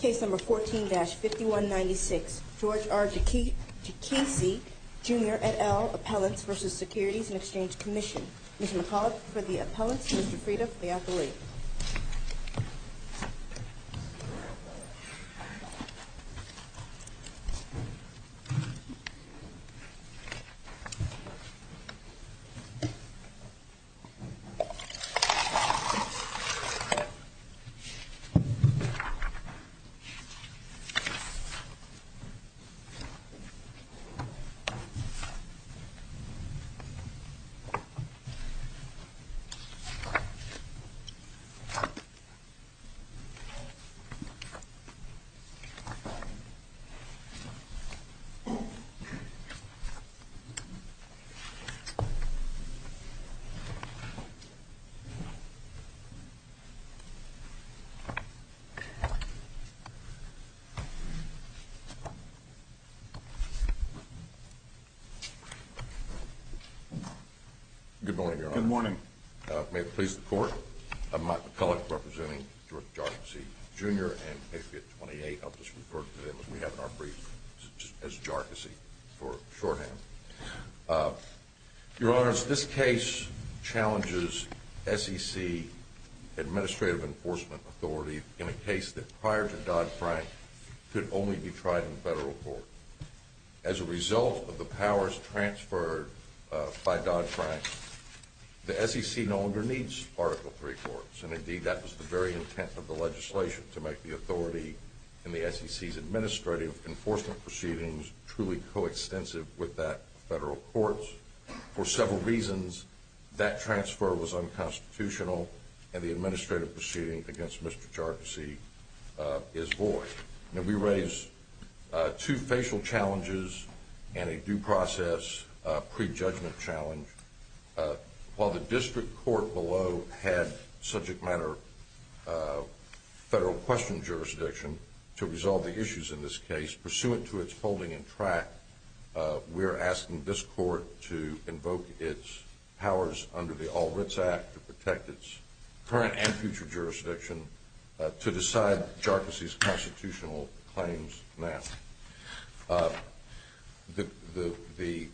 Case number 14-5196, George R. Jarkesy, Jr. et al. Appellants v. Securities and Exchange Commission. Ms. McCullough for the appellants, Mr. Frieda for the appellate. Mr. Jarkesy, Jr. v. Securities and Exchange Commission. Good morning, Your Honor. Good morning. May it please the Court, I'm Mike McCullough representing George Jarkesy, Jr. and Appellant 28. I'll just refer to them as we have in our brief as Jarkesy for shorthand. Your Honor, this case challenges SEC administrative enforcement authority in a case that prior to Dodd-Frank could only be tried in federal court. As a result of the powers transferred by Dodd-Frank, the SEC no longer needs Article III courts and indeed that was the very intent of the legislation to make the authority in the SEC's administrative enforcement proceedings truly coextensive with that of federal courts. For several reasons, that transfer was unconstitutional and the administrative proceeding against Mr. Jarkesy is void. Now we raise two facial challenges and a due process prejudgment challenge. While the district court below had subject matter federal question jurisdiction to resolve the issues in this case, pursuant to its holding and track, we're asking this court to invoke its powers under the All Writs Act to protect its current and future jurisdiction to decide Jarkesy's constitutional claims now. The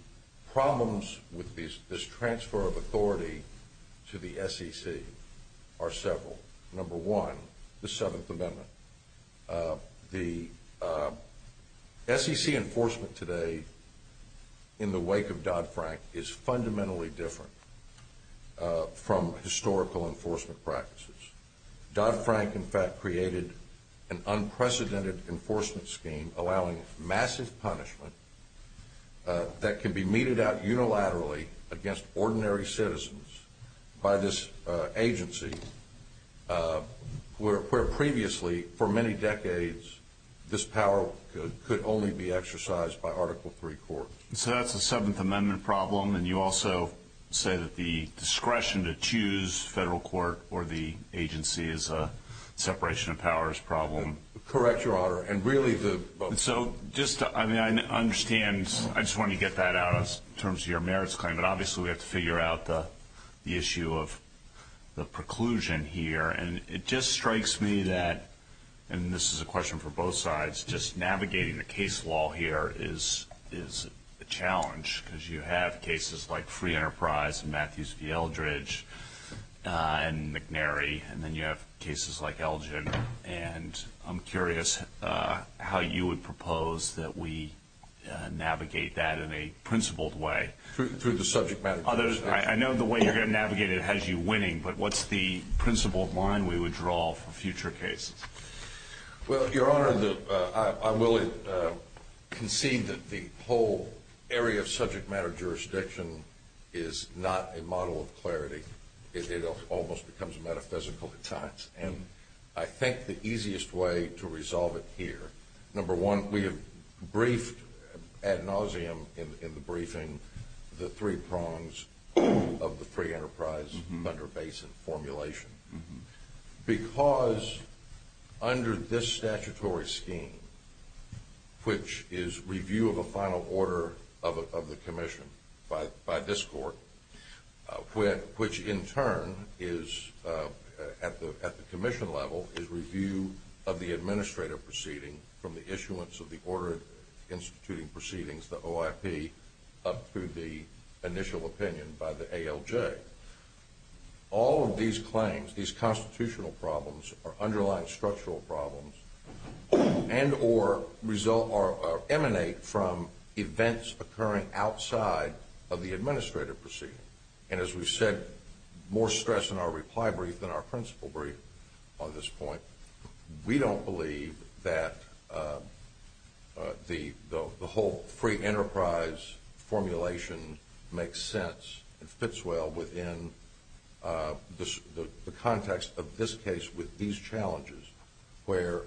problems with this transfer of authority to the SEC are several. Number one, the Seventh Amendment. The SEC enforcement today in the wake of Dodd-Frank is fundamentally different from historical enforcement practices. Dodd-Frank in fact created an unprecedented enforcement scheme allowing massive punishment that can be meted out unilaterally against ordinary citizens by this agency where previously for many decades this power could only be exercised by Article III court. So that's a Seventh Amendment problem and you also say that the discretion to choose federal court or the agency is a separation of powers problem. Correct, Your Honor. I just want to get that out in terms of your merits claim, but obviously we have to figure out the issue of the preclusion here. It just strikes me that, and this is a question for both sides, just navigating the case law here is a challenge because you have cases like Free Enterprise and Matthews v. Eldridge and McNary and then you have cases like Elgin. And I'm curious how you would propose that we navigate that in a principled way. Through the subject matter jurisdiction. I know the way you're going to navigate it has you winning, but what's the principled line we would draw for future cases? Well, Your Honor, I will concede that the whole area of subject matter jurisdiction is not a model of clarity. It almost becomes metaphysical at times. And I think the easiest way to resolve it here, number one, we have briefed ad nauseum in the briefing the three prongs of the Free Enterprise Thunder Basin formulation. Because under this statutory scheme, which is review of a final order of the commission by this court, which in turn is, at the commission level, is review of the administrative proceeding from the issuance of the order instituting proceedings, the OIP, up to the initial opinion by the ALJ. All of these claims, these constitutional problems or underlying structural problems and or result or emanate from events occurring outside of the administrative proceeding. And as we said, more stress in our reply brief than our principle brief on this point. We don't believe that the whole free enterprise formulation makes sense, fits well within the context of this case with these challenges, where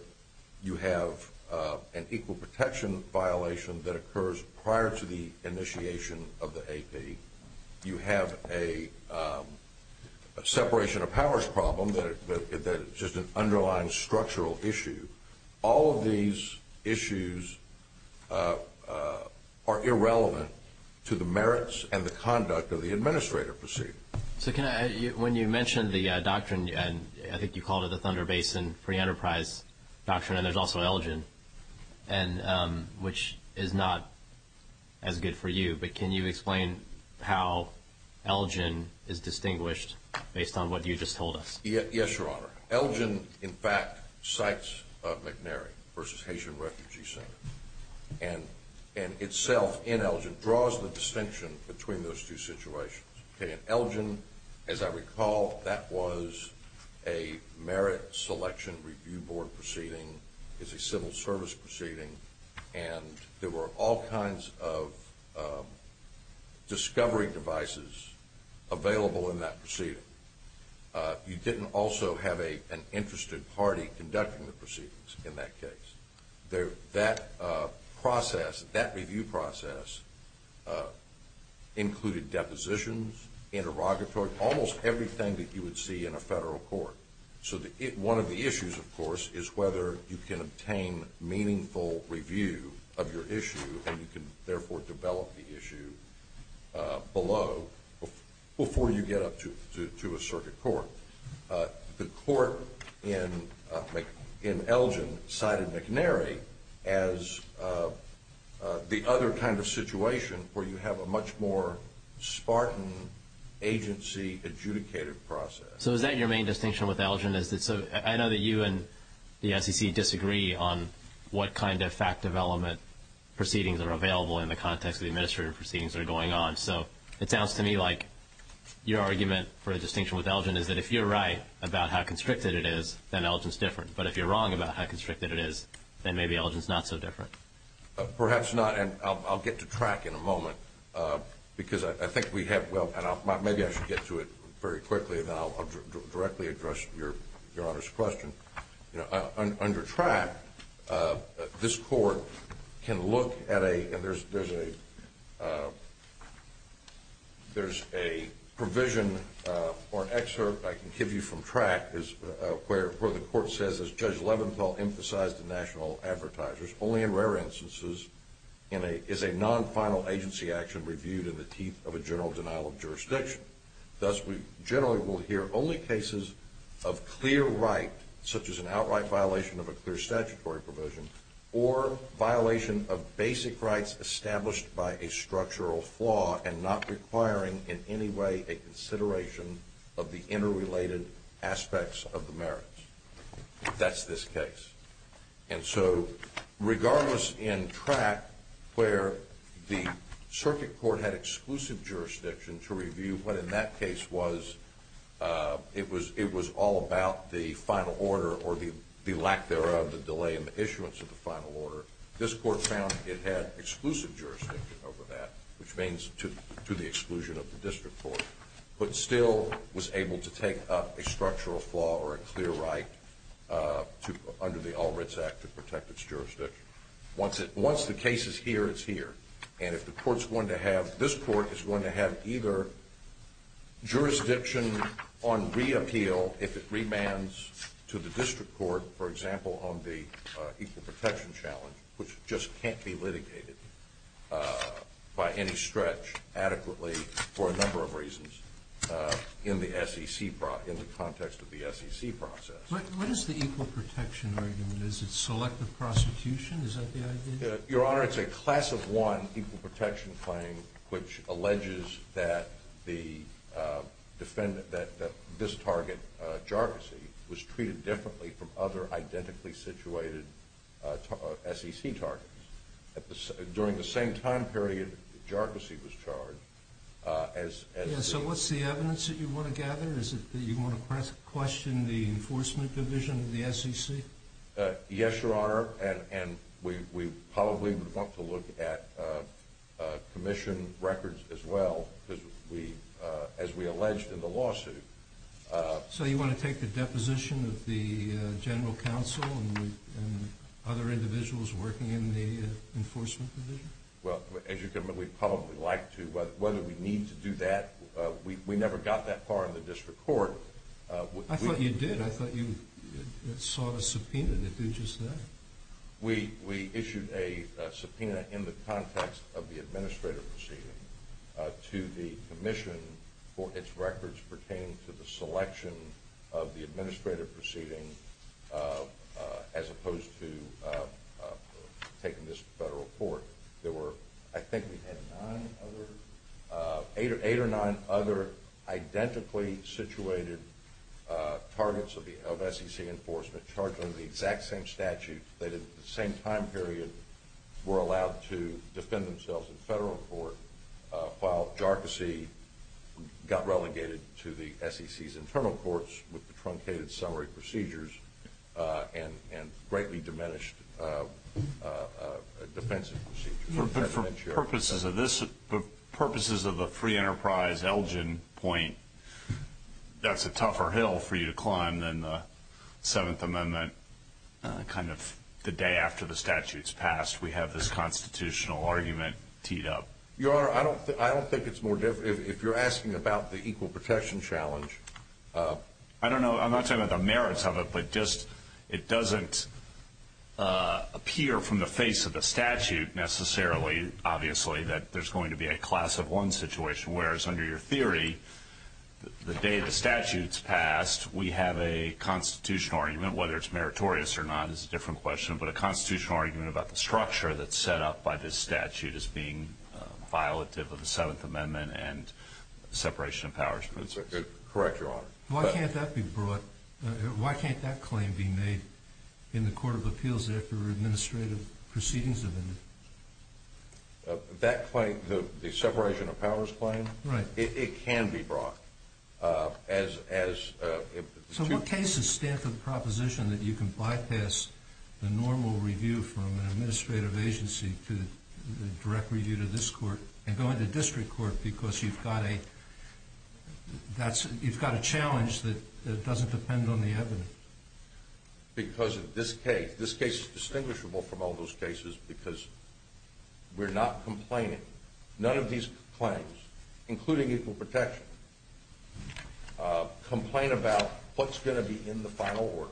you have an equal protection violation that occurs prior to the initiation of the AP. You have a separation of powers problem that is just an underlying structural issue. All of these issues are irrelevant to the merits and the conduct of the administrative proceeding. So when you mentioned the doctrine, I think you called it the Thunder Basin Free Enterprise Doctrine, and there's also Elgin, which is not as good for you, but can you explain how Elgin is distinguished based on what you just told us? Yes, Your Honor. Elgin, in fact, cites McNary v. Haitian Refugee Center and itself in Elgin draws the distinction between those two situations. Elgin, as I recall, that was a merit selection review board proceeding. It's a civil service proceeding, and there were all kinds of discovery devices available in that proceeding. You didn't also have an interested party conducting the proceedings in that case. That process, that review process included depositions, interrogatory, almost everything that you would see in a federal court. So one of the issues, of course, is whether you can obtain meaningful review of your issue and you can therefore develop the issue below before you get up to a circuit court. The court in Elgin cited McNary as the other kind of situation where you have a much more Spartan agency adjudicated process. So is that your main distinction with Elgin? I know that you and the SEC disagree on what kind of fact development proceedings are available in the context of the administrative proceedings that are going on. So it sounds to me like your argument for a distinction with Elgin is that if you're right about how constricted it is, then Elgin's different. But if you're wrong about how constricted it is, then maybe Elgin's not so different. Perhaps not, and I'll get to track in a moment. Maybe I should get to it very quickly, and then I'll directly address Your Honor's question. Under track, this court can look at a provision or an excerpt I can give you from track where the court says, as Judge Leventhal emphasized to national advertisers, only in rare instances is a non-final agency action reviewed in the teeth of a general denial of jurisdiction. Thus, we generally will hear only cases of clear right, such as an outright violation of a clear statutory provision, or violation of basic rights established by a structural flaw and not requiring in any way a consideration of the interrelated aspects of the merits. That's this case. And so regardless in track where the circuit court had exclusive jurisdiction to review what in that case was, it was all about the final order or the lack thereof, the delay in the issuance of the final order, this court found it had exclusive jurisdiction over that, which means to the exclusion of the district court, but still was able to take up a structural flaw or a clear right under the All Writs Act to protect its jurisdiction. Once the case is here, it's here. And this court is going to have either jurisdiction on reappeal if it remands to the district court, for example, on the equal protection challenge, which just can't be litigated by any stretch adequately for a number of reasons in the context of the SEC process. What is the equal protection argument? Is it selective prosecution? Is that the idea? Your Honor, it's a class of one equal protection claim, which alleges that this target, Jargossi, was treated differently from other identically situated SEC targets. During the same time period that Jargossi was charged, as the- Yeah, so what's the evidence that you want to gather? Is it that you want to question the enforcement division of the SEC? Yes, Your Honor, and we probably would want to look at commission records as well, as we alleged in the lawsuit. So you want to take the deposition of the general counsel and other individuals working in the enforcement division? Well, as you can imagine, we'd probably like to. Whether we need to do that, we never got that far in the district court. I thought you did. I thought you sought a subpoena to do just that. We issued a subpoena in the context of the administrative proceeding to the commission for its records pertaining to the selection of the administrative proceeding, as opposed to taking this to federal court. I think we had eight or nine other identically situated targets of SEC enforcement charged under the exact same statute that at the same time period were allowed to defend themselves in federal court, while Jargossi got relegated to the SEC's internal courts with the truncated summary procedures and greatly diminished defensive procedures. But for purposes of the free enterprise Elgin point, that's a tougher hill for you to climb than the Seventh Amendment. Kind of the day after the statute's passed, we have this constitutional argument teed up. Your Honor, I don't think it's more difficult, if you're asking about the equal protection challenge. I don't know. I'm not talking about the merits of it, but it doesn't appear from the face of the statute necessarily, obviously, that there's going to be a class of one situation. Whereas under your theory, the day the statute's passed, we have a constitutional argument. Whether it's meritorious or not is a different question, but a constitutional argument about the structure that's set up by this statute as being violative of the Seventh Amendment and separation of powers. Correct, Your Honor. Why can't that claim be made in the Court of Appeals after administrative proceedings have ended? That claim, the separation of powers claim? Right. It can be brought. So what cases stand for the proposition that you can bypass the normal review from an administrative agency to the direct review to this court and go into district court because you've got a challenge that doesn't depend on the evidence? Because of this case. This case is distinguishable from all those cases because we're not complaining. None of these claims, including equal protection, complain about what's going to be in the final order,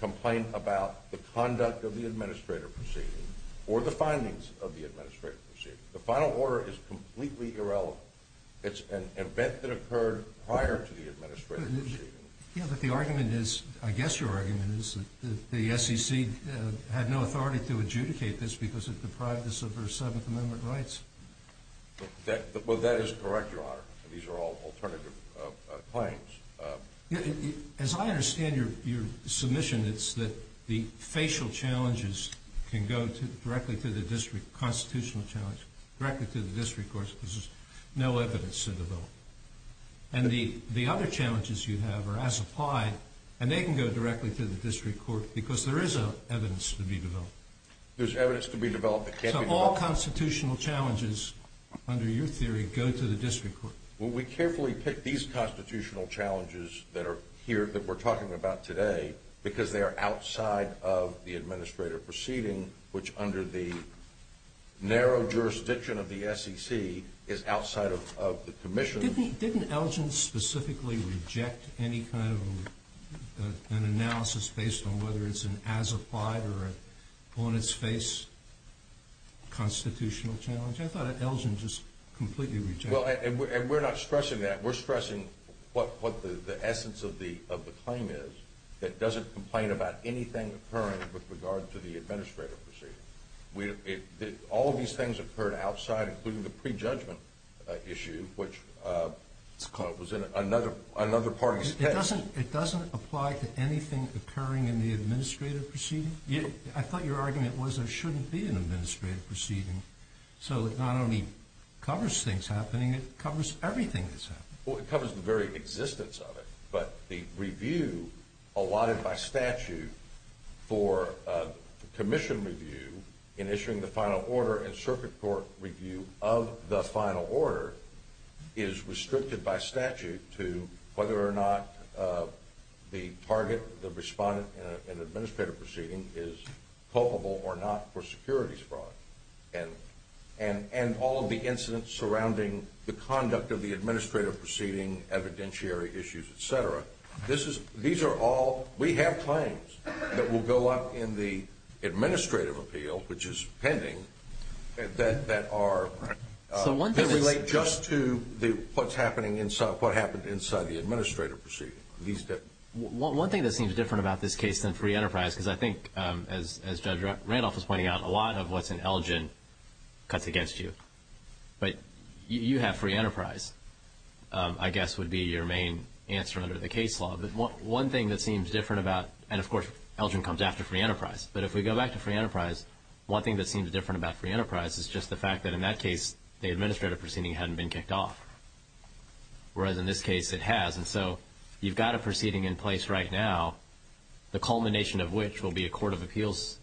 complain about the conduct of the administrative proceeding or the findings of the administrative proceeding. The final order is completely irrelevant. It's an event that occurred prior to the administrative proceeding. Yeah, but the argument is, I guess your argument is, that the SEC had no authority to adjudicate this because it deprived us of our Seventh Amendment rights. Well, that is correct, Your Honor. These are all alternative claims. As I understand your submission, it's that the facial challenges can go directly to the district constitutional challenge, directly to the district court because there's no evidence to develop. And the other challenges you have are as applied, and they can go directly to the district court because there is evidence to be developed. There's evidence to be developed that can be developed. So all constitutional challenges, under your theory, go to the district court. Well, we carefully picked these constitutional challenges that we're talking about today because they are outside of the administrative proceeding, which under the narrow jurisdiction of the SEC is outside of the commission. Didn't Elgin specifically reject any kind of an analysis based on whether it's an as-applied or an on-its-face constitutional challenge? I thought Elgin just completely rejected it. Well, and we're not stressing that. We're stressing what the essence of the claim is, that it doesn't complain about anything occurring with regard to the administrative proceeding. All of these things occurred outside, including the prejudgment issue, which was another party's test. It doesn't apply to anything occurring in the administrative proceeding? I thought your argument was there shouldn't be an administrative proceeding. So it not only covers things happening, it covers everything that's happening. Well, it covers the very existence of it, but the review allotted by statute for commission review in issuing the final order and circuit court review of the final order is restricted by statute to whether or not the target, the respondent in an administrative proceeding is culpable or not for securities fraud. And all of the incidents surrounding the conduct of the administrative proceeding, evidentiary issues, et cetera, these are all, we have claims that will go up in the administrative appeal, which is pending, that relate just to what happened inside the administrative proceeding. One thing that seems different about this case than free enterprise, because I think as Judge Randolph was pointing out, a lot of what's in Elgin cuts against you. But you have free enterprise, I guess, would be your main answer under the case law. But one thing that seems different about, and of course, Elgin comes after free enterprise. But if we go back to free enterprise, one thing that seems different about free enterprise is just the fact that in that case, the administrative proceeding hadn't been kicked off, whereas in this case it has. And so you've got a proceeding in place right now, the culmination of which will be a court of appeals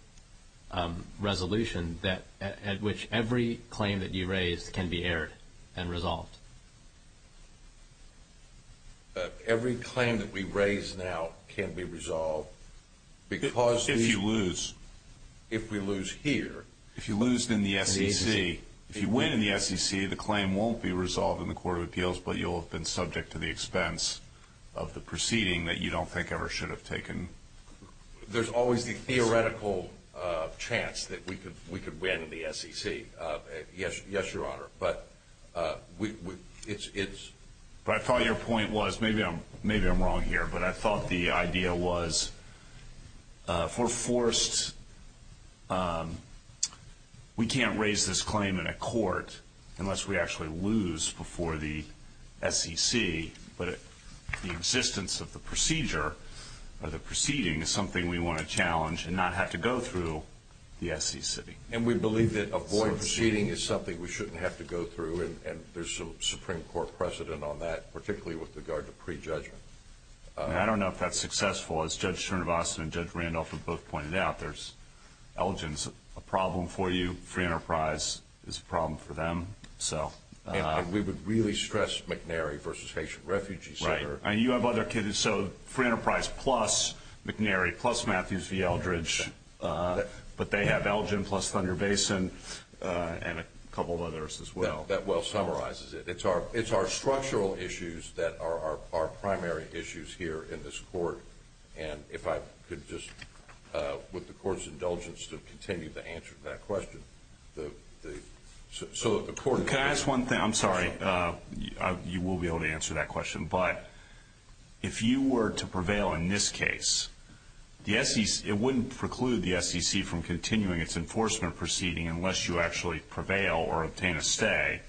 resolution, at which every claim that you raise can be aired and resolved. Every claim that we raise now can be resolved because if we lose here. If you lose in the SEC, if you win in the SEC, the claim won't be resolved in the court of appeals, but you'll have been subject to the expense of the proceeding that you don't think ever should have taken. There's always the theoretical chance that we could win the SEC. Yes, Your Honor. But I thought your point was, maybe I'm wrong here, but I thought the idea was for forced, we can't raise this claim in a court unless we actually lose before the SEC, but the existence of the procedure or the proceeding is something we want to challenge and not have to go through the SEC. And we believe that a void proceeding is something we shouldn't have to go through, and there's a Supreme Court precedent on that, particularly with regard to prejudgment. I don't know if that's successful. As Judge Cernovasti and Judge Randolph have both pointed out, there's, Elgin's a problem for you, Free Enterprise is a problem for them, so. And we would really stress McNary versus Haitian refugees. Right. And you have other cases, so Free Enterprise plus McNary plus Matthews v. Eldridge, but they have Elgin plus Thunder Basin and a couple of others as well. That well summarizes it. It's our structural issues that are our primary issues here in this court. And if I could just, with the Court's indulgence, continue to answer that question. Can I ask one thing? I'm sorry. You will be able to answer that question. But if you were to prevail in this case, it wouldn't preclude the SEC from continuing its enforcement proceeding unless you actually prevail or obtain a stay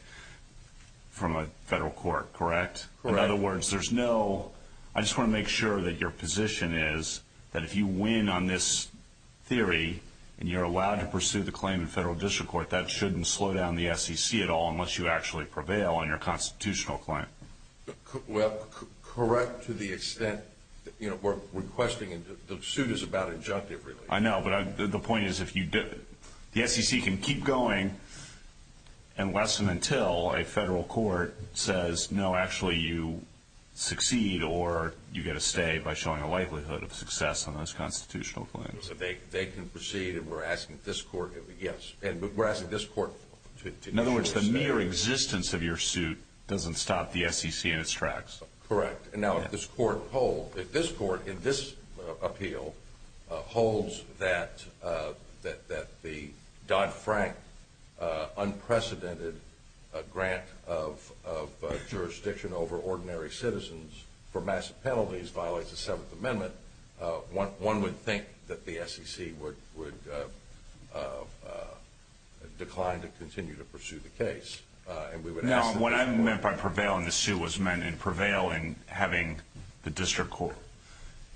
from a federal court, correct? Correct. In other words, there's no, I just want to make sure that your position is that if you win on this theory and you're allowed to pursue the claim in federal district court, that shouldn't slow down the SEC at all unless you actually prevail on your constitutional claim. Well, correct to the extent, you know, we're requesting, and the suit is about injunctive, really. I know, but the point is, the SEC can keep going unless and until a federal court says, no, actually you succeed or you get a stay by showing a likelihood of success on those constitutional claims. They can proceed, and we're asking this court, yes. And we're asking this court to ensure a stay. In other words, the mere existence of your suit doesn't stop the SEC in its tracks. Correct. Now, if this court holds, if this court in this appeal holds that the Dodd-Frank unprecedented grant of jurisdiction over ordinary citizens for massive penalties violates the Seventh Amendment, one would think that the SEC would decline to continue to pursue the case. Now, what I meant by prevailing, the suit was meant in prevailing, having the district court,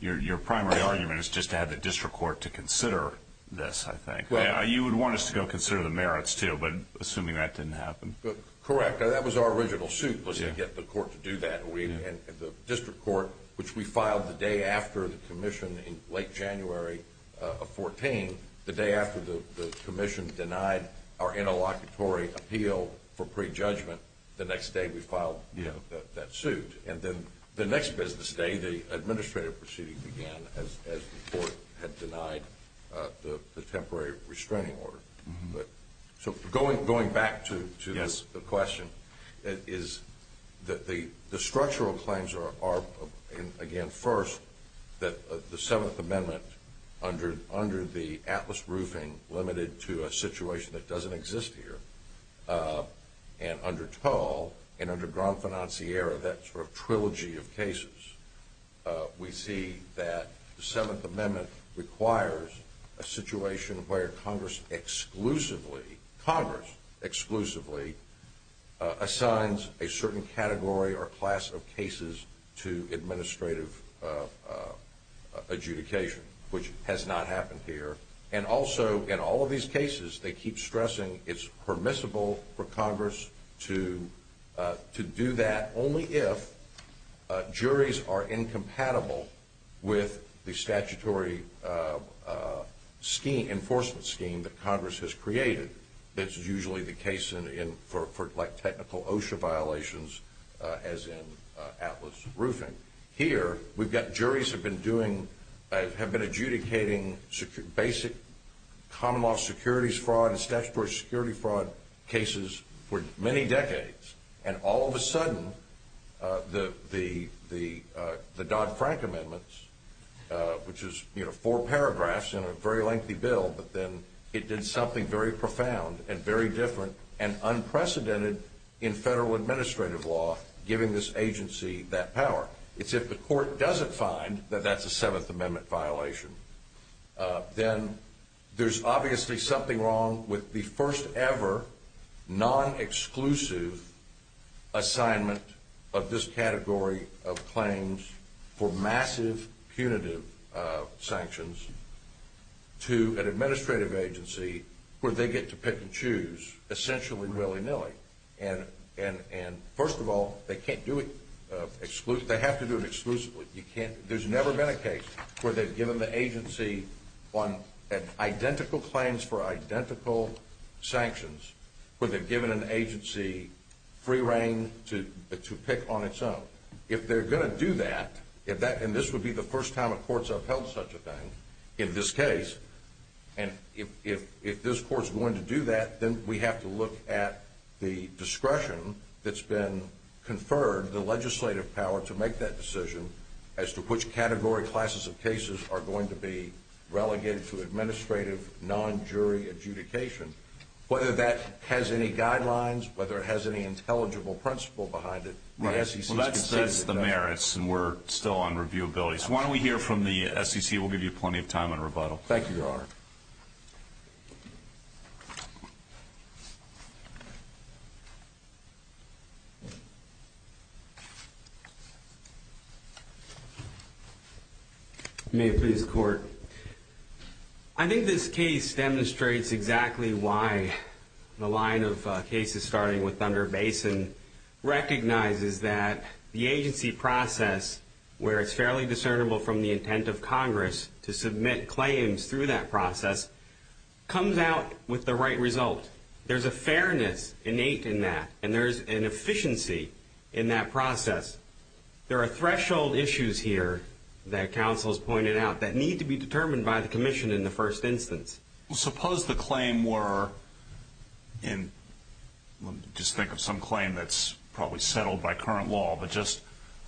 your primary argument is just to have the district court to consider this, I think. You would want us to go consider the merits, too, but assuming that didn't happen. Correct. That was our original suit was to get the court to do that. The district court, which we filed the day after the commission in late January of 2014, the day after the commission denied our interlocutory appeal for prejudgment, the next day we filed that suit. And then the next business day, the administrative proceeding began as the court had denied the temporary restraining order. So going back to the question, the structural claims are, again, first, that the Seventh Amendment, under the Atlas Roofing, limited to a situation that doesn't exist here. And under Toll and under Gran Financiera, that sort of trilogy of cases, we see that the Seventh Amendment requires a situation where Congress exclusively, Congress exclusively assigns a certain category or class of cases to administrative adjudication, which has not happened here. And also, in all of these cases, they keep stressing it's permissible for Congress to do that, only if juries are incompatible with the statutory enforcement scheme that Congress has created. That's usually the case for technical OSHA violations, as in Atlas Roofing. Here, we've got juries have been doing, have been adjudicating basic common law securities fraud and statutory security fraud cases for many decades. And all of a sudden, the Dodd-Frank amendments, which is four paragraphs in a very lengthy bill, but then it did something very profound and very different and unprecedented in federal administrative law, giving this agency that power. It's if the court doesn't find that that's a Seventh Amendment violation, then there's obviously something wrong with the first ever non-exclusive assignment of this category of claims for massive punitive sanctions to an administrative agency where they get to pick and choose, essentially willy-nilly. And first of all, they can't do it, they have to do it exclusively. There's never been a case where they've given the agency identical claims for identical sanctions, where they've given an agency free reign to pick on its own. If they're going to do that, and this would be the first time a court's upheld such a thing in this case, and if this court's going to do that, then we have to look at the discretion that's been conferred, the legislative power to make that decision as to which category, classes of cases, are going to be relegated to administrative non-jury adjudication. Whether that has any guidelines, whether it has any intelligible principle behind it, the SEC's conceded that. Well, that's the merits, and we're still on reviewability. So why don't we hear from the SEC. We'll give you plenty of time on rebuttal. Thank you, Your Honor. May it please the Court. I think this case demonstrates exactly why the line of cases starting with Thunder Basin recognizes that the agency process, where it's fairly discernible from the intent of Congress to submit claims through that process, comes out with the right result. There's a fairness innate in that, and there's an efficiency in that process. There are threshold issues here that counsel has pointed out that need to be determined by the commission in the first instance. Well, suppose the claim were in, just think of some claim that's probably settled by current law, but just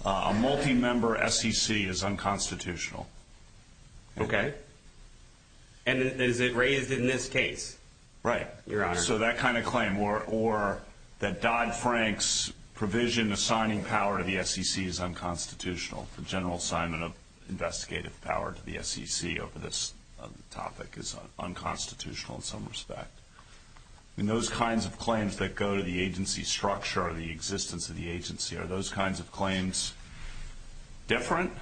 a multi-member SEC is unconstitutional. Okay. And is it raised in this case, Your Honor? Right. So that kind of claim, or that Dodd-Frank's provision assigning power to the SEC is unconstitutional, the general assignment of investigative power to the SEC over this topic is unconstitutional in some respect. I mean, those kinds of claims that go to the agency structure or the existence of the agency, are those kinds of claims different?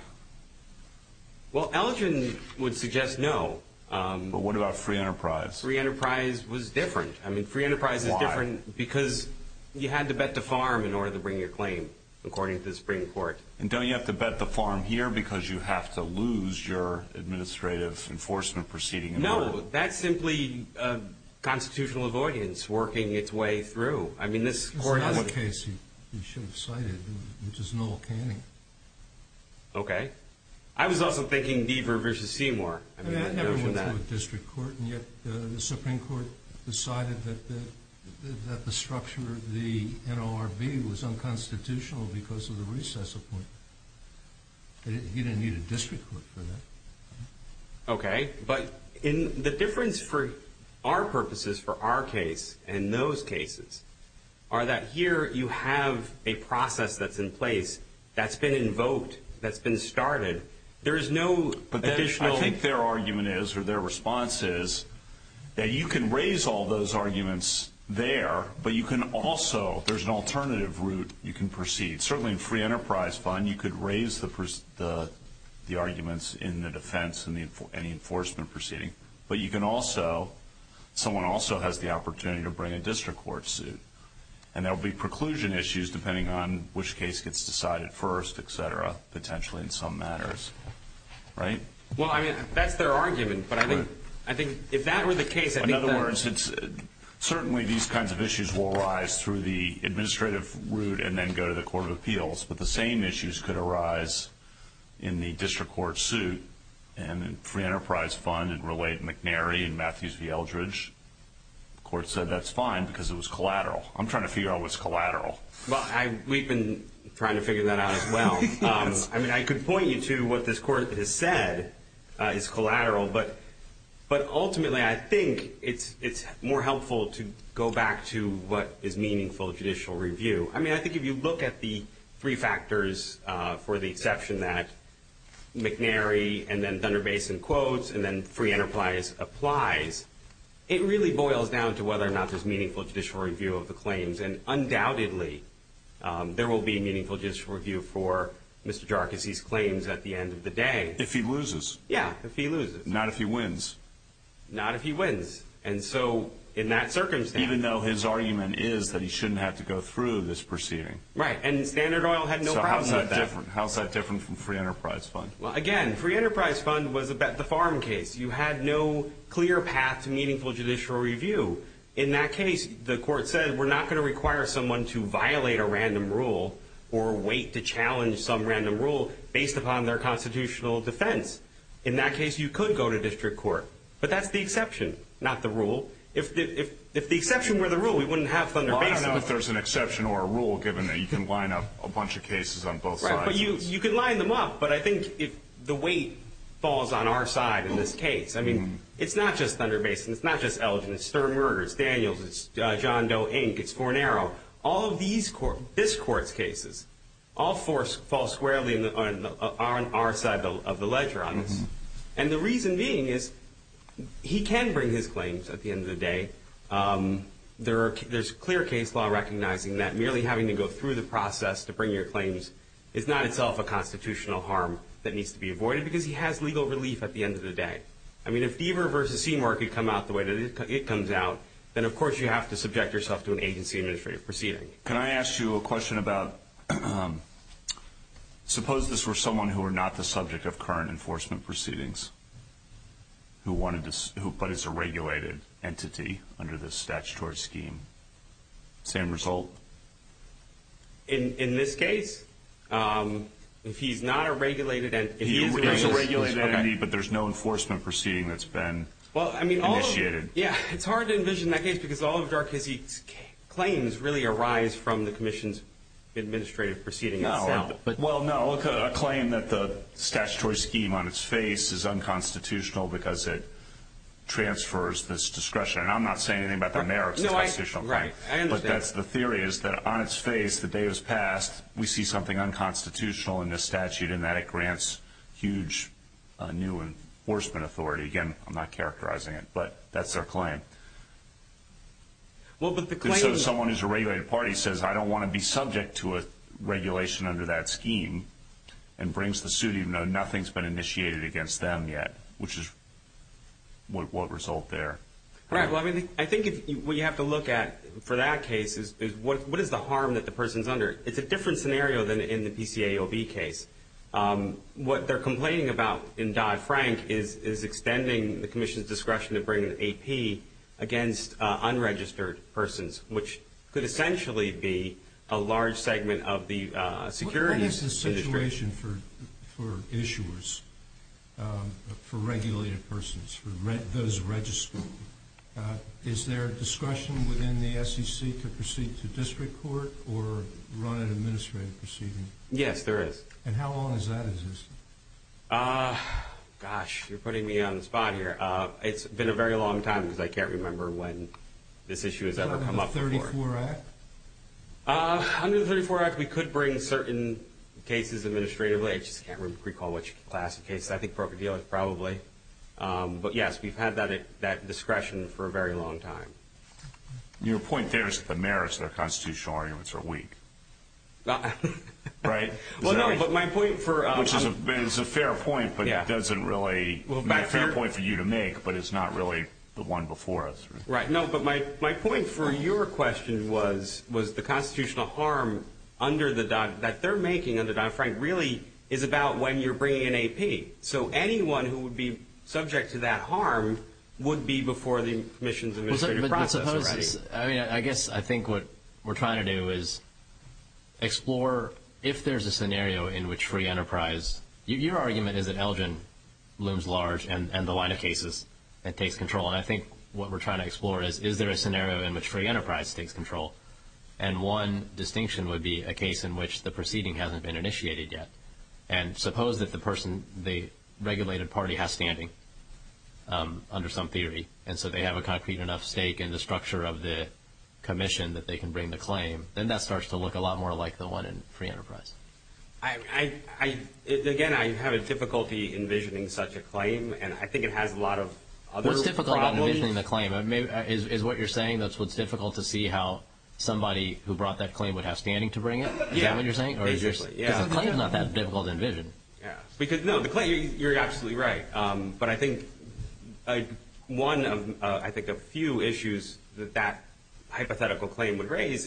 Well, Elgin would suggest no. But what about Free Enterprise? Free Enterprise was different. I mean, Free Enterprise is different because you had to bet the farm in order to bring your claim, according to the Supreme Court. And don't you have to bet the farm here because you have to lose your administrative enforcement proceeding? No. That's simply constitutional avoidance working its way through. I mean, this court has a... It's not the case. You should have cited it. It's just an old canning. Okay. I was also thinking Deaver v. Seymour. Everyone's going to a district court, and yet the Supreme Court decided that the structure of the NLRB was unconstitutional because of the recess appointment. He didn't need a district court for that. Okay. But the difference for our purposes for our case and those cases are that here you have a process that's in place that's been invoked, that's been started. There is no additional... I think their argument is or their response is that you can raise all those arguments there, but you can also, if there's an alternative route, you can proceed. Certainly in Free Enterprise Fund, you could raise the arguments in the defense and any enforcement proceeding, but you can also, someone also has the opportunity to bring a district court suit, and there will be preclusion issues depending on which case gets decided first, et cetera, potentially in some matters, right? Well, I mean, that's their argument, but I think if that were the case, I think that... In other words, certainly these kinds of issues will arise through the administrative route and then go to the Court of Appeals, but the same issues could arise in the district court suit and in Free Enterprise Fund and relate McNary and Matthews v. Eldridge. The court said that's fine because it was collateral. I'm trying to figure out what's collateral. Well, we've been trying to figure that out as well. I mean, I could point you to what this court has said is collateral, but ultimately I think it's more helpful to go back to what is meaningful judicial review. I mean, I think if you look at the three factors for the exception that McNary and then Thunder Basin quotes and then Free Enterprise applies, it really boils down to whether or not there's meaningful judicial review of the claims, and undoubtedly there will be meaningful judicial review for Mr. Jarkis's claims at the end of the day. If he loses. Yeah, if he loses. Not if he wins. Not if he wins, and so in that circumstance... Even though his argument is that he shouldn't have to go through this proceeding. Right, and Standard Oil had no problem with that. So how is that different from Free Enterprise Fund? Well, again, Free Enterprise Fund was the farm case. You had no clear path to meaningful judicial review. In that case, the court said we're not going to require someone to violate a random rule or wait to challenge some random rule based upon their constitutional defense. In that case, you could go to district court, but that's the exception, not the rule. If the exception were the rule, we wouldn't have Thunder Basin. Well, I don't know if there's an exception or a rule, given that you can line up a bunch of cases on both sides. Right, but you can line them up, but I think the weight falls on our side in this case. I mean, it's not just Thunder Basin. It's not just Elgin. It's Stern Murgers. It's Daniels. It's John Doe, Inc. It's Fornero. All of this court's cases all fall squarely on our side of the ledger on this. And the reason being is he can bring his claims at the end of the day. There's clear case law recognizing that merely having to go through the process to bring your claims is not itself a constitutional harm that needs to be avoided because he has legal relief at the end of the day. I mean, if Deaver v. Seymour could come out the way that it comes out, then, of course, you have to subject yourself to an agency administrative proceeding. Can I ask you a question about suppose this were someone who were not the subject of current enforcement proceedings but is a regulated entity under this statutory scheme? Same result? In this case? If he's not a regulated entity. He's a regulated entity, but there's no enforcement proceeding that's been initiated. Yeah, it's hard to envision that case because all of Darkeese's claims really arise from the commission's administrative proceeding. Well, no. A claim that the statutory scheme on its face is unconstitutional because it transfers this discretion. Right. I understand. But that's the theory is that on its face, the day it was passed, we see something unconstitutional in this statute and that it grants huge new enforcement authority. Again, I'm not characterizing it, but that's their claim. So someone who's a regulated party says, I don't want to be subject to a regulation under that scheme and brings the suit even though nothing's been initiated against them yet, which is what will result there. Right. Well, I think what you have to look at for that case is what is the harm that the person's under? It's a different scenario than in the PCAOB case. What they're complaining about in Dodd-Frank is extending the commission's discretion to bring an AP against unregistered persons, which could essentially be a large segment of the security. What is the situation for issuers, for regulated persons, for those registered? Is there a discretion within the SEC to proceed to district court or run an administrative proceeding? Yes, there is. And how long has that existed? Gosh, you're putting me on the spot here. It's been a very long time because I can't remember when this issue has ever come up before. Under the 34 Act? Under the 34 Act, we could bring certain cases administratively. I just can't recall which class of cases. I think broker-dealer, probably. But, yes, we've had that discretion for a very long time. Your point there is that the merits of their constitutional arguments are weak. Right? Well, no, but my point for— Which is a fair point, but it doesn't really— Well, back there— —a fair point for you to make, but it's not really the one before us. Right. No, but my point for your question was the constitutional harm that they're making under Dodd-Frank really is about when you're bringing in AP. So anyone who would be subject to that harm would be before the admissions administrative process. I guess I think what we're trying to do is explore if there's a scenario in which free enterprise— your argument is that Elgin looms large and the line of cases that takes control. And I think what we're trying to explore is, is there a scenario in which free enterprise takes control? And one distinction would be a case in which the proceeding hasn't been initiated yet. And suppose that the person, the regulated party, has standing under some theory, and so they have a concrete enough stake in the structure of the commission that they can bring the claim. Then that starts to look a lot more like the one in free enterprise. Again, I have a difficulty envisioning such a claim, and I think it has a lot of other— It's difficult about envisioning the claim. Is what you're saying that's what's difficult to see how somebody who brought that claim would have standing to bring it? Is that what you're saying? Yeah, basically. Because the claim is not that difficult to envision. No, the claim, you're absolutely right. But I think one of, I think, a few issues that that hypothetical claim would raise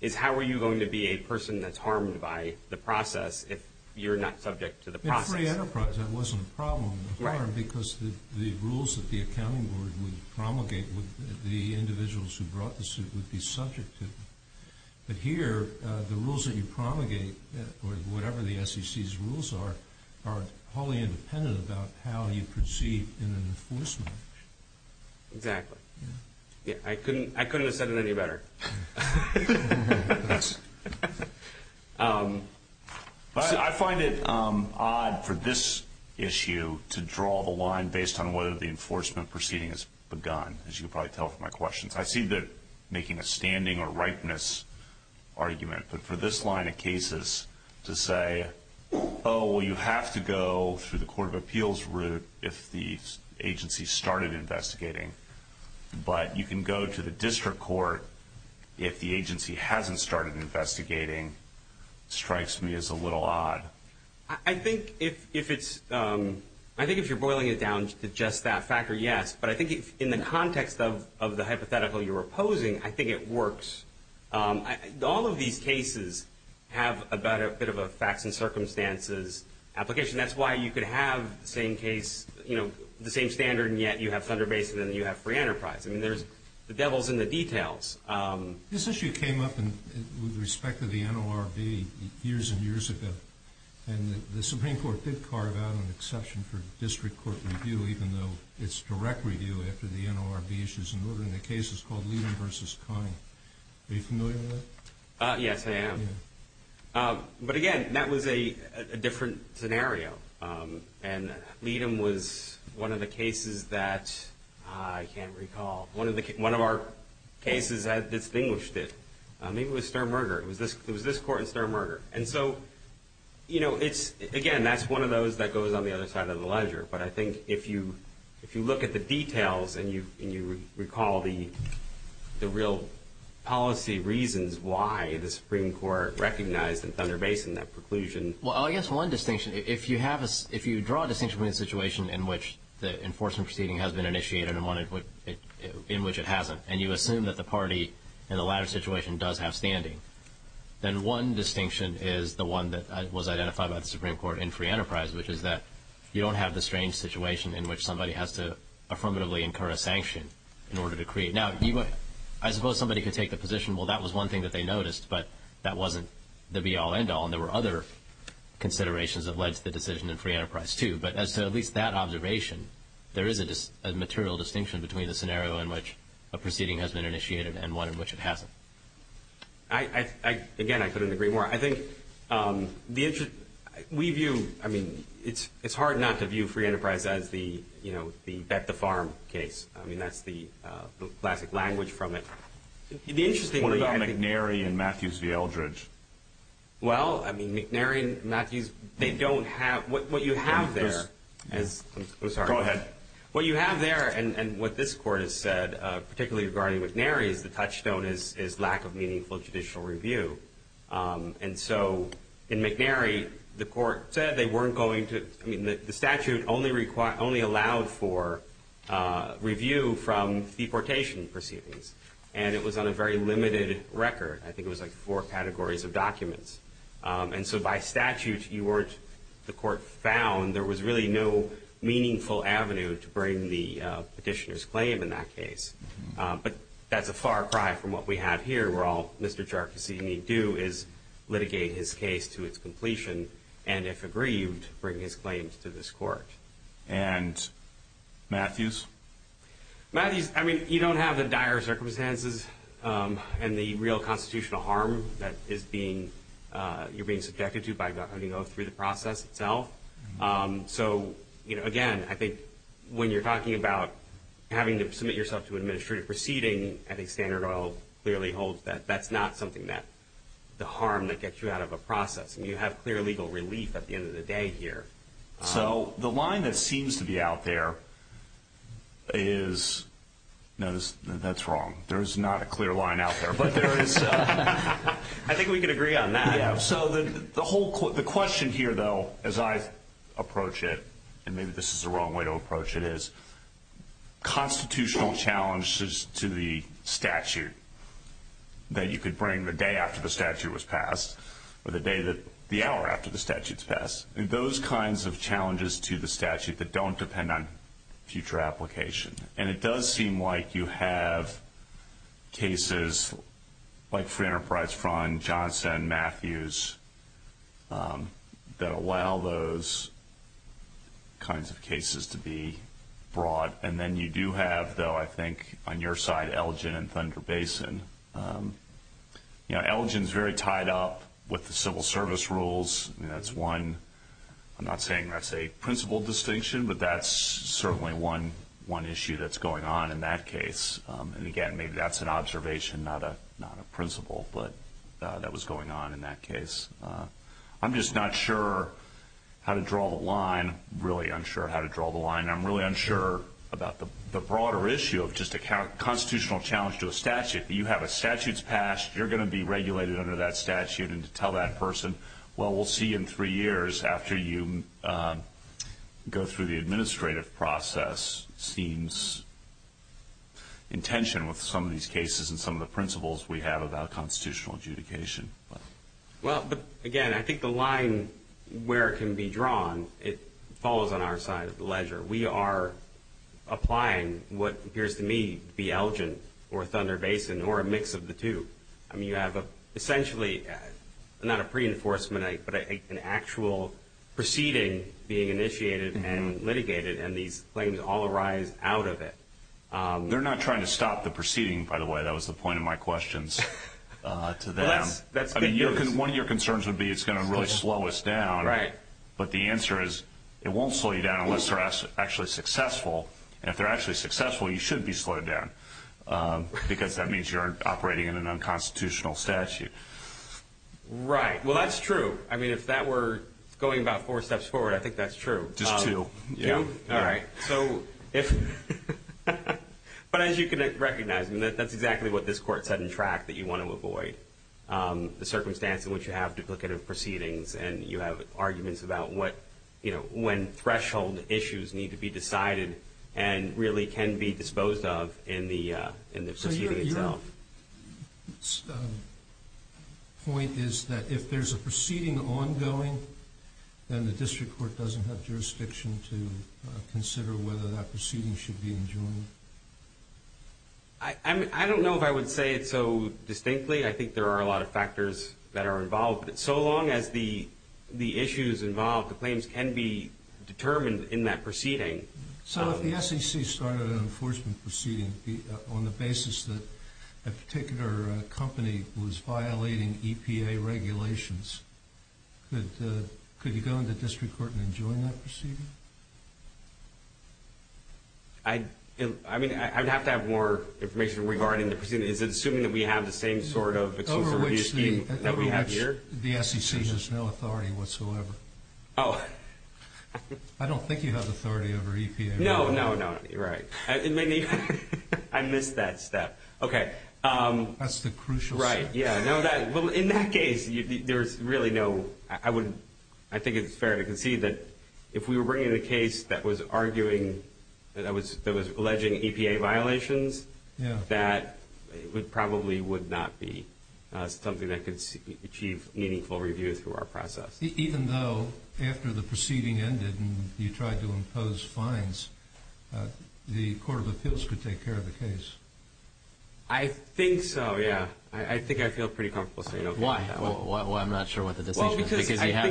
is how are you going to be a person that's harmed by the process if you're not subject to the process? In free enterprise, that wasn't a problem. Right. Because the rules that the accounting board would promulgate would, the individuals who brought the suit would be subject to. But here, the rules that you promulgate, or whatever the SEC's rules are, are wholly independent about how you proceed in an enforcement. Exactly. Yeah. I couldn't have said it any better. I find it odd for this issue to draw the line based on whether the enforcement proceeding has begun, as you can probably tell from my questions. I see that making a standing or ripeness argument, but for this line of cases to say, oh, well, you have to go through the court of appeals route if the agency started investigating, but you can go to the district court if the agency hasn't started investigating, strikes me as a little odd. I think if it's, I think if you're boiling it down to just that factor, yes. But I think in the context of the hypothetical you're opposing, I think it works. All of these cases have a bit of a facts and circumstances application. That's why you could have the same case, you know, the same standard, and yet you have Thunder Basin and you have free enterprise. I mean, there's the devils in the details. This issue came up with respect to the NORB years and years ago, and the Supreme Court did carve out an exception for district court review, even though it's direct review after the NORB issues an order in the cases called Levin v. Conning. Are you familiar with that? Yes, I am. But, again, that was a different scenario, and Leadom was one of the cases that I can't recall. One of our cases had distinguished it. Maybe it was Sturm-Merger. It was this court and Sturm-Merger. And so, you know, it's, again, that's one of those that goes on the other side of the ledger. But I think if you look at the details and you recall the real policy reasons why the Supreme Court recognized in Thunder Basin that preclusion. Well, I guess one distinction, if you draw a distinction between a situation in which the enforcement proceeding has been initiated and one in which it hasn't, and you assume that the party in the latter situation does have standing, then one distinction is the one that was identified by the Supreme Court in free enterprise, which is that you don't have the strange situation in which somebody has to affirmatively incur a sanction in order to create. Now, I suppose somebody could take the position, well, that was one thing that they noticed, but that wasn't the be-all, end-all, and there were other considerations that led to the decision in free enterprise, too. But as to at least that observation, there is a material distinction between the scenario in which a proceeding has been initiated and one in which it hasn't. Again, I couldn't agree more. I think we view, I mean, it's hard not to view free enterprise as the bet the farm case. I mean, that's the classic language from it. What about McNary and Matthews v. Eldridge? Well, I mean, McNary and Matthews, they don't have, what you have there is, I'm sorry. Go ahead. What you have there and what this Court has said, particularly regarding McNary, is the touchstone is lack of meaningful judicial review. And so in McNary, the statute only allowed for review from deportation proceedings, and it was on a very limited record. I think it was like four categories of documents. And so by statute, the Court found there was really no meaningful avenue to bring the petitioner's claim in that case. But that's a far cry from what we have here, where all Mr. Ciarcassini would do is litigate his case to its completion and, if agreed, bring his claims to this Court. And Matthews? Matthews, I mean, you don't have the dire circumstances and the real constitutional harm that you're being subjected to through the process itself. So, again, I think when you're talking about having to submit yourself to an administrative proceeding, I think Standard Oil clearly holds that that's not something that, the harm that gets you out of a process. I mean, you have clear legal relief at the end of the day here. So the line that seems to be out there is, no, that's wrong. There is not a clear line out there. But there is, I think we can agree on that. Yeah, so the question here, though, as I approach it, and maybe this is the wrong way to approach it is, constitutional challenges to the statute that you could bring the day after the statute was passed or the hour after the statute's passed, those kinds of challenges to the statute that don't depend on future application. And it does seem like you have cases like Free Enterprise Fund, Johnson, Matthews, that allow those kinds of cases to be brought. And then you do have, though, I think on your side, Elgin and Thunder Basin. You know, Elgin's very tied up with the civil service rules. I'm not saying that's a principle distinction, but that's certainly one issue that's going on in that case. And, again, maybe that's an observation, not a principle, but that was going on in that case. I'm just not sure how to draw the line, really unsure how to draw the line. I'm really unsure about the broader issue of just a constitutional challenge to a statute. You have a statute's passed. You're going to be regulated under that statute. And to tell that person, well, we'll see in three years after you go through the administrative process, seems in tension with some of these cases and some of the principles we have about constitutional adjudication. Well, again, I think the line where it can be drawn, it follows on our side of the ledger. We are applying what appears to me to be Elgin or Thunder Basin or a mix of the two. I mean, you have essentially not a pre-enforcement, but an actual proceeding being initiated and litigated, and these claims all arise out of it. They're not trying to stop the proceeding, by the way. That was the point of my questions to them. I mean, one of your concerns would be it's going to really slow us down. Right. But the answer is it won't slow you down unless they're actually successful. And if they're actually successful, you shouldn't be slowed down, because that means you're operating in an unconstitutional statute. Right. Well, that's true. I mean, if that were going about four steps forward, I think that's true. Just two. All right. But as you can recognize, that's exactly what this Court said in track that you want to avoid, the circumstance in which you have duplicative proceedings and you have arguments about when threshold issues need to be decided and really can be disposed of in the proceeding itself. So your point is that if there's a proceeding ongoing, then the district court doesn't have jurisdiction to consider whether that proceeding should be enjoined. I don't know if I would say it so distinctly. I think there are a lot of factors that are involved. So long as the issues involved, the claims can be determined in that proceeding. So if the SEC started an enforcement proceeding on the basis that a particular company was violating EPA regulations, could you go into district court and enjoin that proceeding? I mean, I'd have to have more information regarding the proceedings. Is it assuming that we have the same sort of exclusive review scheme that we have here? The SEC has no authority whatsoever. Oh. I don't think you have authority over EPA. No, no, no. You're right. I missed that step. Okay. That's the crucial step. Right. Yeah. Well, in that case, there's really no—I think it's fair to concede that if we were bringing a case that was arguing— that was alleging EPA violations, that probably would not be something that could achieve meaningful review through our process. Even though, after the proceeding ended and you tried to impose fines, the Court of Appeals could take care of the case? I think so, yeah. I think I feel pretty comfortable saying okay with that one. Why? Well, I'm not sure what the decision is. Well, because I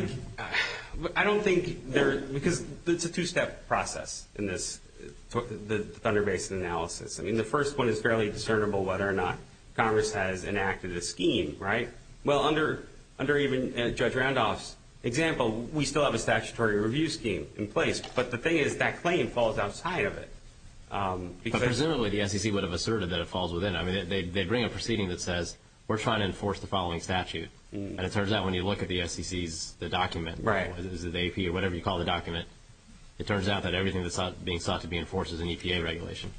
think—I don't think there—because it's a two-step process in this—the Thunder Basin analysis. I mean, the first one is fairly discernible whether or not Congress has enacted a scheme, right? Well, under even Judge Randolph's example, we still have a statutory review scheme in place. But the thing is, that claim falls outside of it. But presumably, the SEC would have asserted that it falls within. I mean, they bring a proceeding that says, we're trying to enforce the following statute. And it turns out, when you look at the SEC's—the document, whether it's the AP or whatever you call the document, it turns out that everything that's being sought to be enforced is an EPA regulation.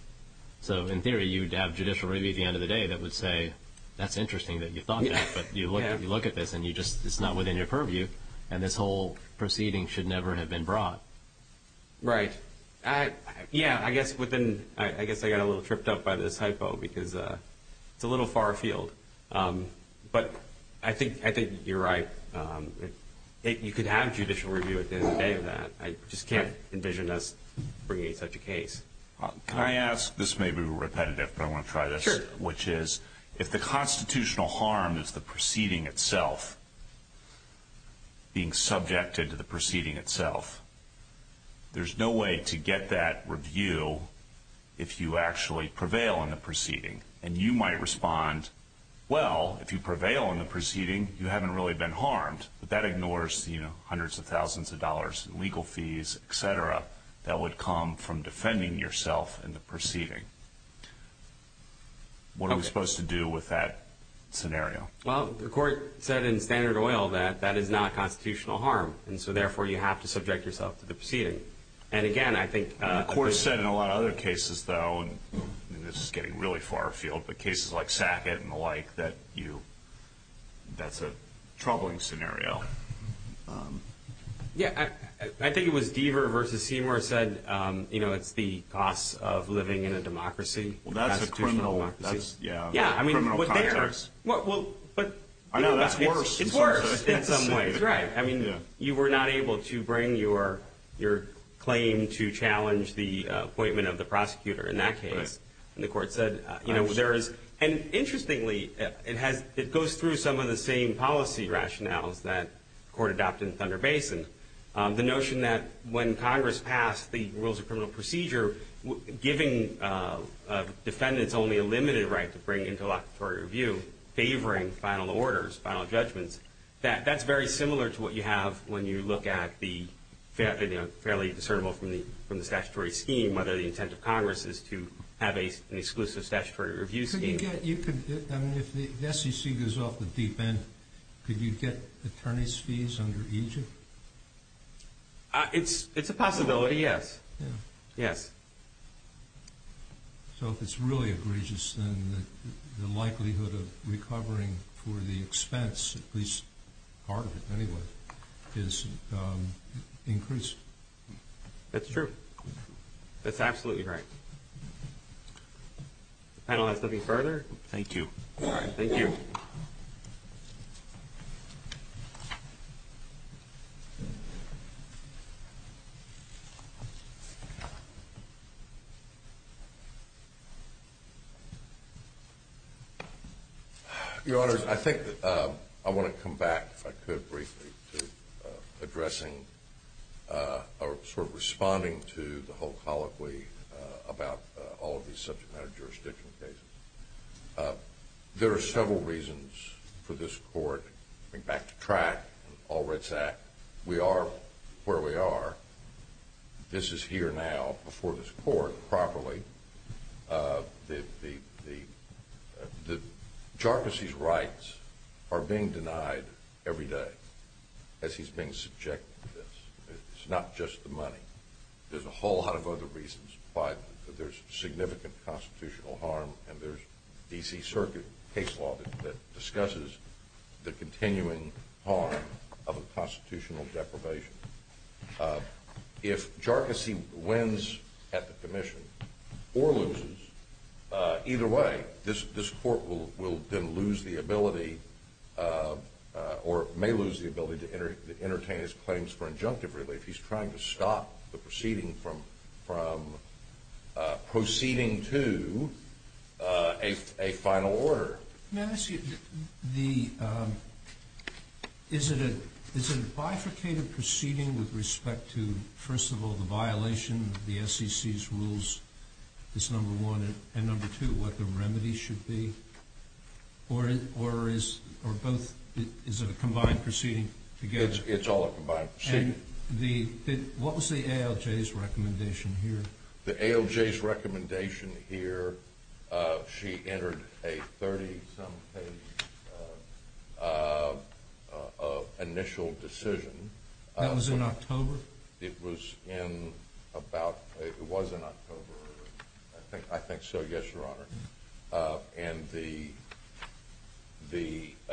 So, in theory, you'd have judicial review at the end of the day that would say, that's interesting that you thought that. But you look at this, and you just—it's not within your purview. And this whole proceeding should never have been brought. Right. Yeah, I guess within—I guess I got a little tripped up by this hypo because it's a little far afield. But I think you're right. You could have judicial review at the end of the day of that. I just can't envision us bringing such a case. Can I ask—this may be repetitive, but I want to try this. Sure. Which is, if the constitutional harm is the proceeding itself being subjected to the proceeding itself, there's no way to get that review if you actually prevail in the proceeding. And you might respond, well, if you prevail in the proceeding, you haven't really been harmed. But that ignores, you know, hundreds of thousands of dollars in legal fees, et cetera, that would come from defending yourself in the proceeding. What are we supposed to do with that scenario? Well, the court said in Standard Oil that that is not constitutional harm. And so, therefore, you have to subject yourself to the proceeding. And, again, I think— The court said in a lot of other cases, though, and this is getting really far afield, but cases like Sackett and the like, that you—that's a troubling scenario. Yeah. I think it was Deaver v. Seymour said, you know, it's the cost of living in a democracy. Well, that's a criminal— That's a constitutional democracy. Yeah. Criminal context. I know. That's worse. It's worse in some ways. Right. I mean, you were not able to bring your claim to challenge the appointment of the prosecutor in that case. Right. And the court said, you know, there is— I'm sure. And, interestingly, it has—it goes through some of the same policy rationales that the court adopted in Thunder Basin. The notion that when Congress passed the Rules of Criminal Procedure, giving defendants only a limited right to bring into locatory review, favoring final orders, final judgments, that's very similar to what you have when you look at the fairly discernible from the statutory scheme, whether the intent of Congress is to have an exclusive statutory review scheme. Could you get—you could—I mean, if the SEC goes off the deep end, could you get attorney's fees under Egypt? It's a possibility, yes. Yeah. Yes. So if it's really egregious, then the likelihood of recovering for the expense, at least part of it anyway, is increased. That's true. That's absolutely right. I don't have anything further. Thank you. All right. Thank you. Your Honors, I think that I want to come back, if I could briefly, to addressing or sort of responding to the whole colloquy about all of these subject matter jurisdiction cases. There are several reasons for this court, going back to track and all red sack, we are where we are. This is here now, before this court, properly. The jurisdiction's rights are being denied every day as he's being subjected to this. It's not just the money. There's a whole lot of other reasons why there's significant constitutional harm, and there's D.C. Circuit case law that discusses the continuing harm of a constitutional deprivation. If Jarkissi wins at the commission or loses, either way, this court will then lose the ability or may lose the ability to entertain his claims for injunctive relief. If he's trying to stop the proceeding from proceeding to a final order. May I ask you, is it a bifurcated proceeding with respect to, first of all, the violation of the SEC's rules? That's number one. And number two, what the remedy should be? Or is it a combined proceeding together? It's all a combined proceeding. What was the ALJ's recommendation here? The ALJ's recommendation here, she entered a 30-some page initial decision. That was in October? It was in about, it was in October. I think so, yes, Your Honor. And the,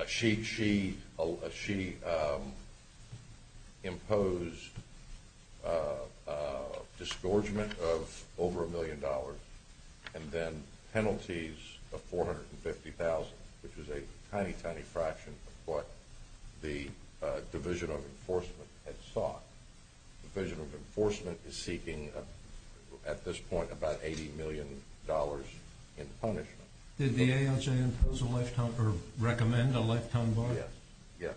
she imposed a disgorgement of over a million dollars and then penalties of $450,000, which is a tiny, tiny fraction of what the Division of Enforcement had sought. The Division of Enforcement is seeking, at this point, about $80 million in punishment. Did the ALJ impose a lifetime, or recommend a lifetime bar? Yes, yes,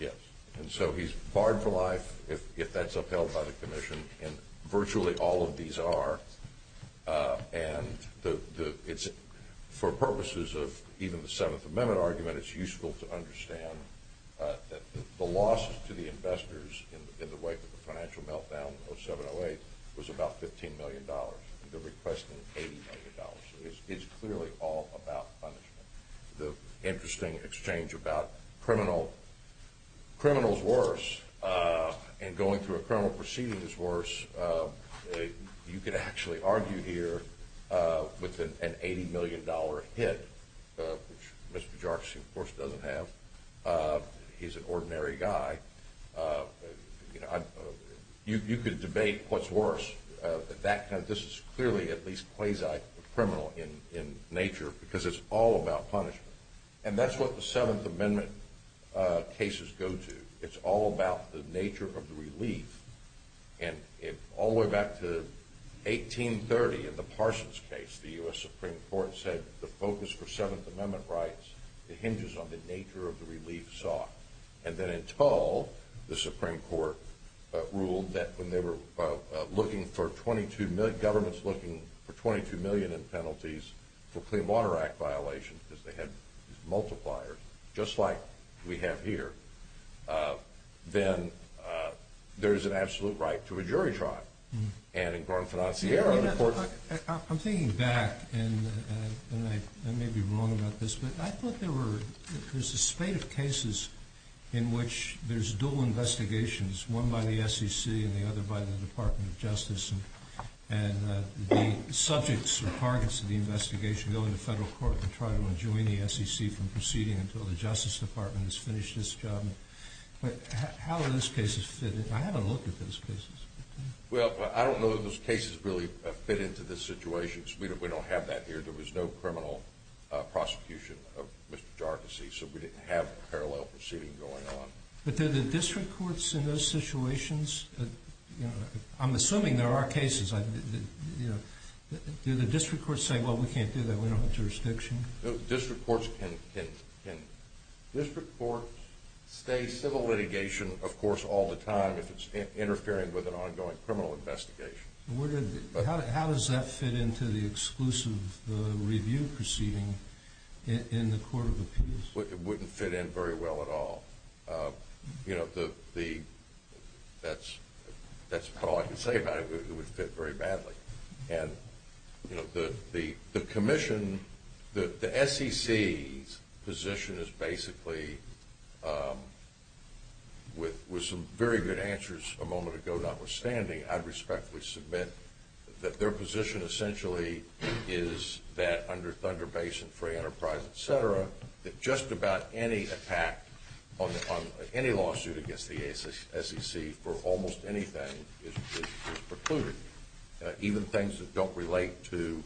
yes. And so he's barred for life if that's upheld by the commission, and virtually all of these are. And the, it's, for purposes of even the Seventh Amendment argument, it's useful to understand that the losses to the investors in the wake of the financial meltdown in 07-08 was about $15 million. They're requesting $80 million. It's clearly all about punishment. The interesting exchange about criminal, criminal's worse, and going through a criminal proceeding is worse. You could actually argue here with an $80 million hit, which Mr. Jarvis, of course, doesn't have. He's an ordinary guy. You could debate what's worse. This is clearly at least quasi-criminal in nature because it's all about punishment. And that's what the Seventh Amendment cases go to. It's all about the nature of the relief. And all the way back to 1830 in the Parsons case, the U.S. Supreme Court said the focus for Seventh Amendment rights, it hinges on the nature of the relief sought. And then in Tull, the Supreme Court ruled that when they were looking for $22 million, governments looking for $22 million in penalties for Clean Water Act violations because they had multipliers, just like we have here, then there's an absolute right to a jury trial. And in Grand Financiero, the court— I'm thinking back, and I may be wrong about this, but I thought there was a spate of cases in which there's dual investigations, one by the SEC and the other by the Department of Justice, and the subjects or targets of the investigation go into federal court and try to enjoin the SEC from proceeding until the Justice Department has finished its job. But how do those cases fit in? I haven't looked at those cases. Well, I don't know that those cases really fit into the situations. We don't have that here. There was no criminal prosecution of Mr. Jarkissi, so we didn't have a parallel proceeding going on. But do the district courts in those situations—I'm assuming there are cases. Do the district courts say, well, we can't do that, we don't have jurisdiction? District courts stay civil litigation, of course, all the time if it's interfering with an ongoing criminal investigation. How does that fit into the exclusive review proceeding in the court of appeals? It wouldn't fit in very well at all. That's about all I can say about it. It would fit very badly. And the commission—the SEC's position is basically, with some very good answers a moment ago notwithstanding, I'd respectfully submit that their position essentially is that under Thunder Basin Free Enterprise, et cetera, that just about any attack on any lawsuit against the SEC for almost anything is precluded, even things that don't relate to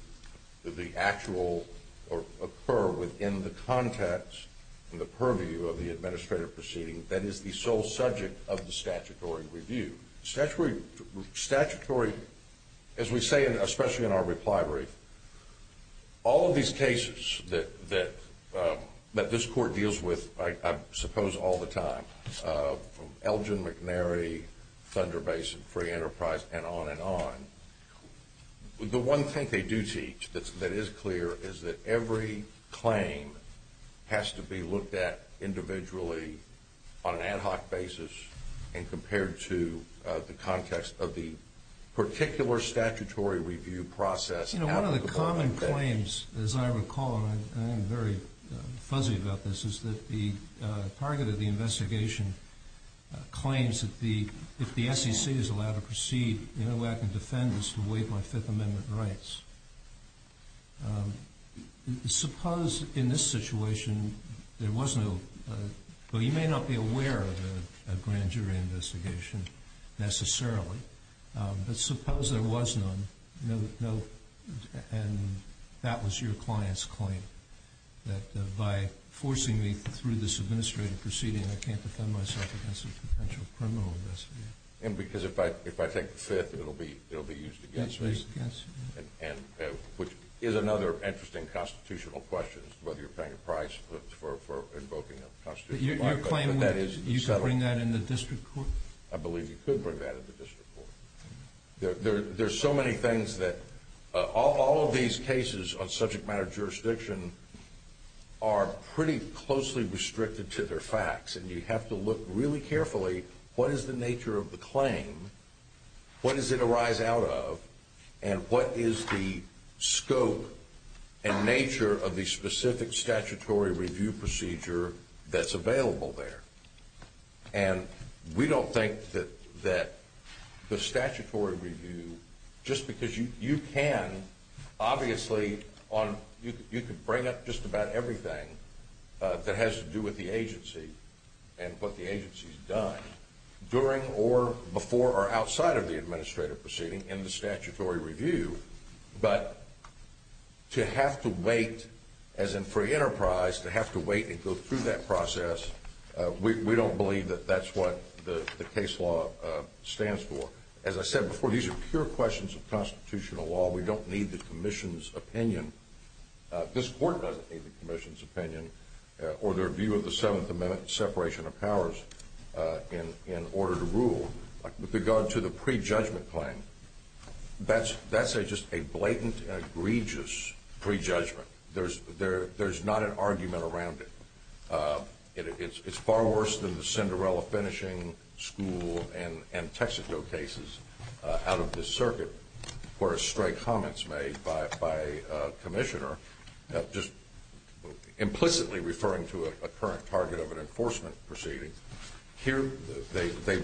the actual—or occur within the context and the purview of the administrative proceeding that is the sole subject of the statutory review. Statutory—as we say, especially in our reply brief, all of these cases that this court deals with, I suppose, all the time, from Elgin McNary, Thunder Basin Free Enterprise, and on and on, the one thing they do teach that is clear is that every claim has to be looked at individually on an ad hoc basis and compared to the context of the particular statutory review process. You know, one of the common claims, as I recall, and I'm very fuzzy about this, is that the target of the investigation claims that if the SEC is allowed to proceed, the only way I can defend this is to waive my Fifth Amendment rights. Suppose in this situation there was no—well, you may not be aware of a grand jury investigation necessarily, but suppose there was none, and that was your client's claim, that by forcing me through this administrative proceeding, I can't defend myself against a potential criminal investigation. And because if I take the Fifth, it'll be used against me, which is another interesting constitutional question, whether you're paying a price for invoking a constitutional right. But your claim would—you could bring that in the district court? I believe you could bring that in the district court. There are so many things that—all of these cases on subject matter jurisdiction are pretty closely restricted to their facts, and you have to look really carefully, what is the nature of the claim, what does it arise out of, and what is the scope and nature of the specific statutory review procedure that's available there? And we don't think that the statutory review, just because you can, obviously, you could bring up just about everything that has to do with the agency and what the agency's done during or before or outside of the administrative proceeding in the statutory review, but to have to wait, as in free enterprise, to have to wait and go through that process, we don't believe that that's what the case law stands for. As I said before, these are pure questions of constitutional law. We don't need the commission's opinion. This court doesn't need the commission's opinion or their view of the Seventh Amendment separation of powers in order to rule. With regard to the prejudgment claim, that's just a blatant and egregious prejudgment. There's not an argument around it. It's far worse than the Cinderella finishing school and Texaco cases out of this circuit where stray comments made by a commissioner just implicitly referring to a current target of an enforcement proceeding. Here they,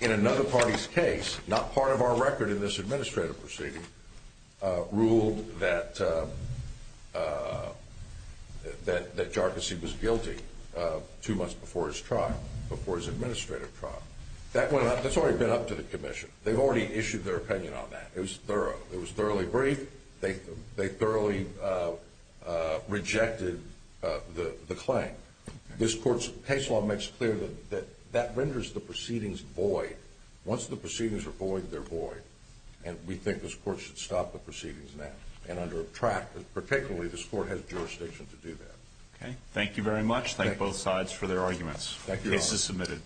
in another party's case, not part of our record in this administrative proceeding, ruled that Jarkissi was guilty two months before his trial, before his administrative trial. That's already been up to the commission. They've already issued their opinion on that. It was thorough. It was thoroughly brief. They thoroughly rejected the claim. This court's case law makes clear that that renders the proceedings void. Once the proceedings are void, they're void, and we think this court should stop the proceedings now. And under a tract, particularly, this court has jurisdiction to do that. Okay. Thank you very much. Thank both sides for their arguments. The case is submitted.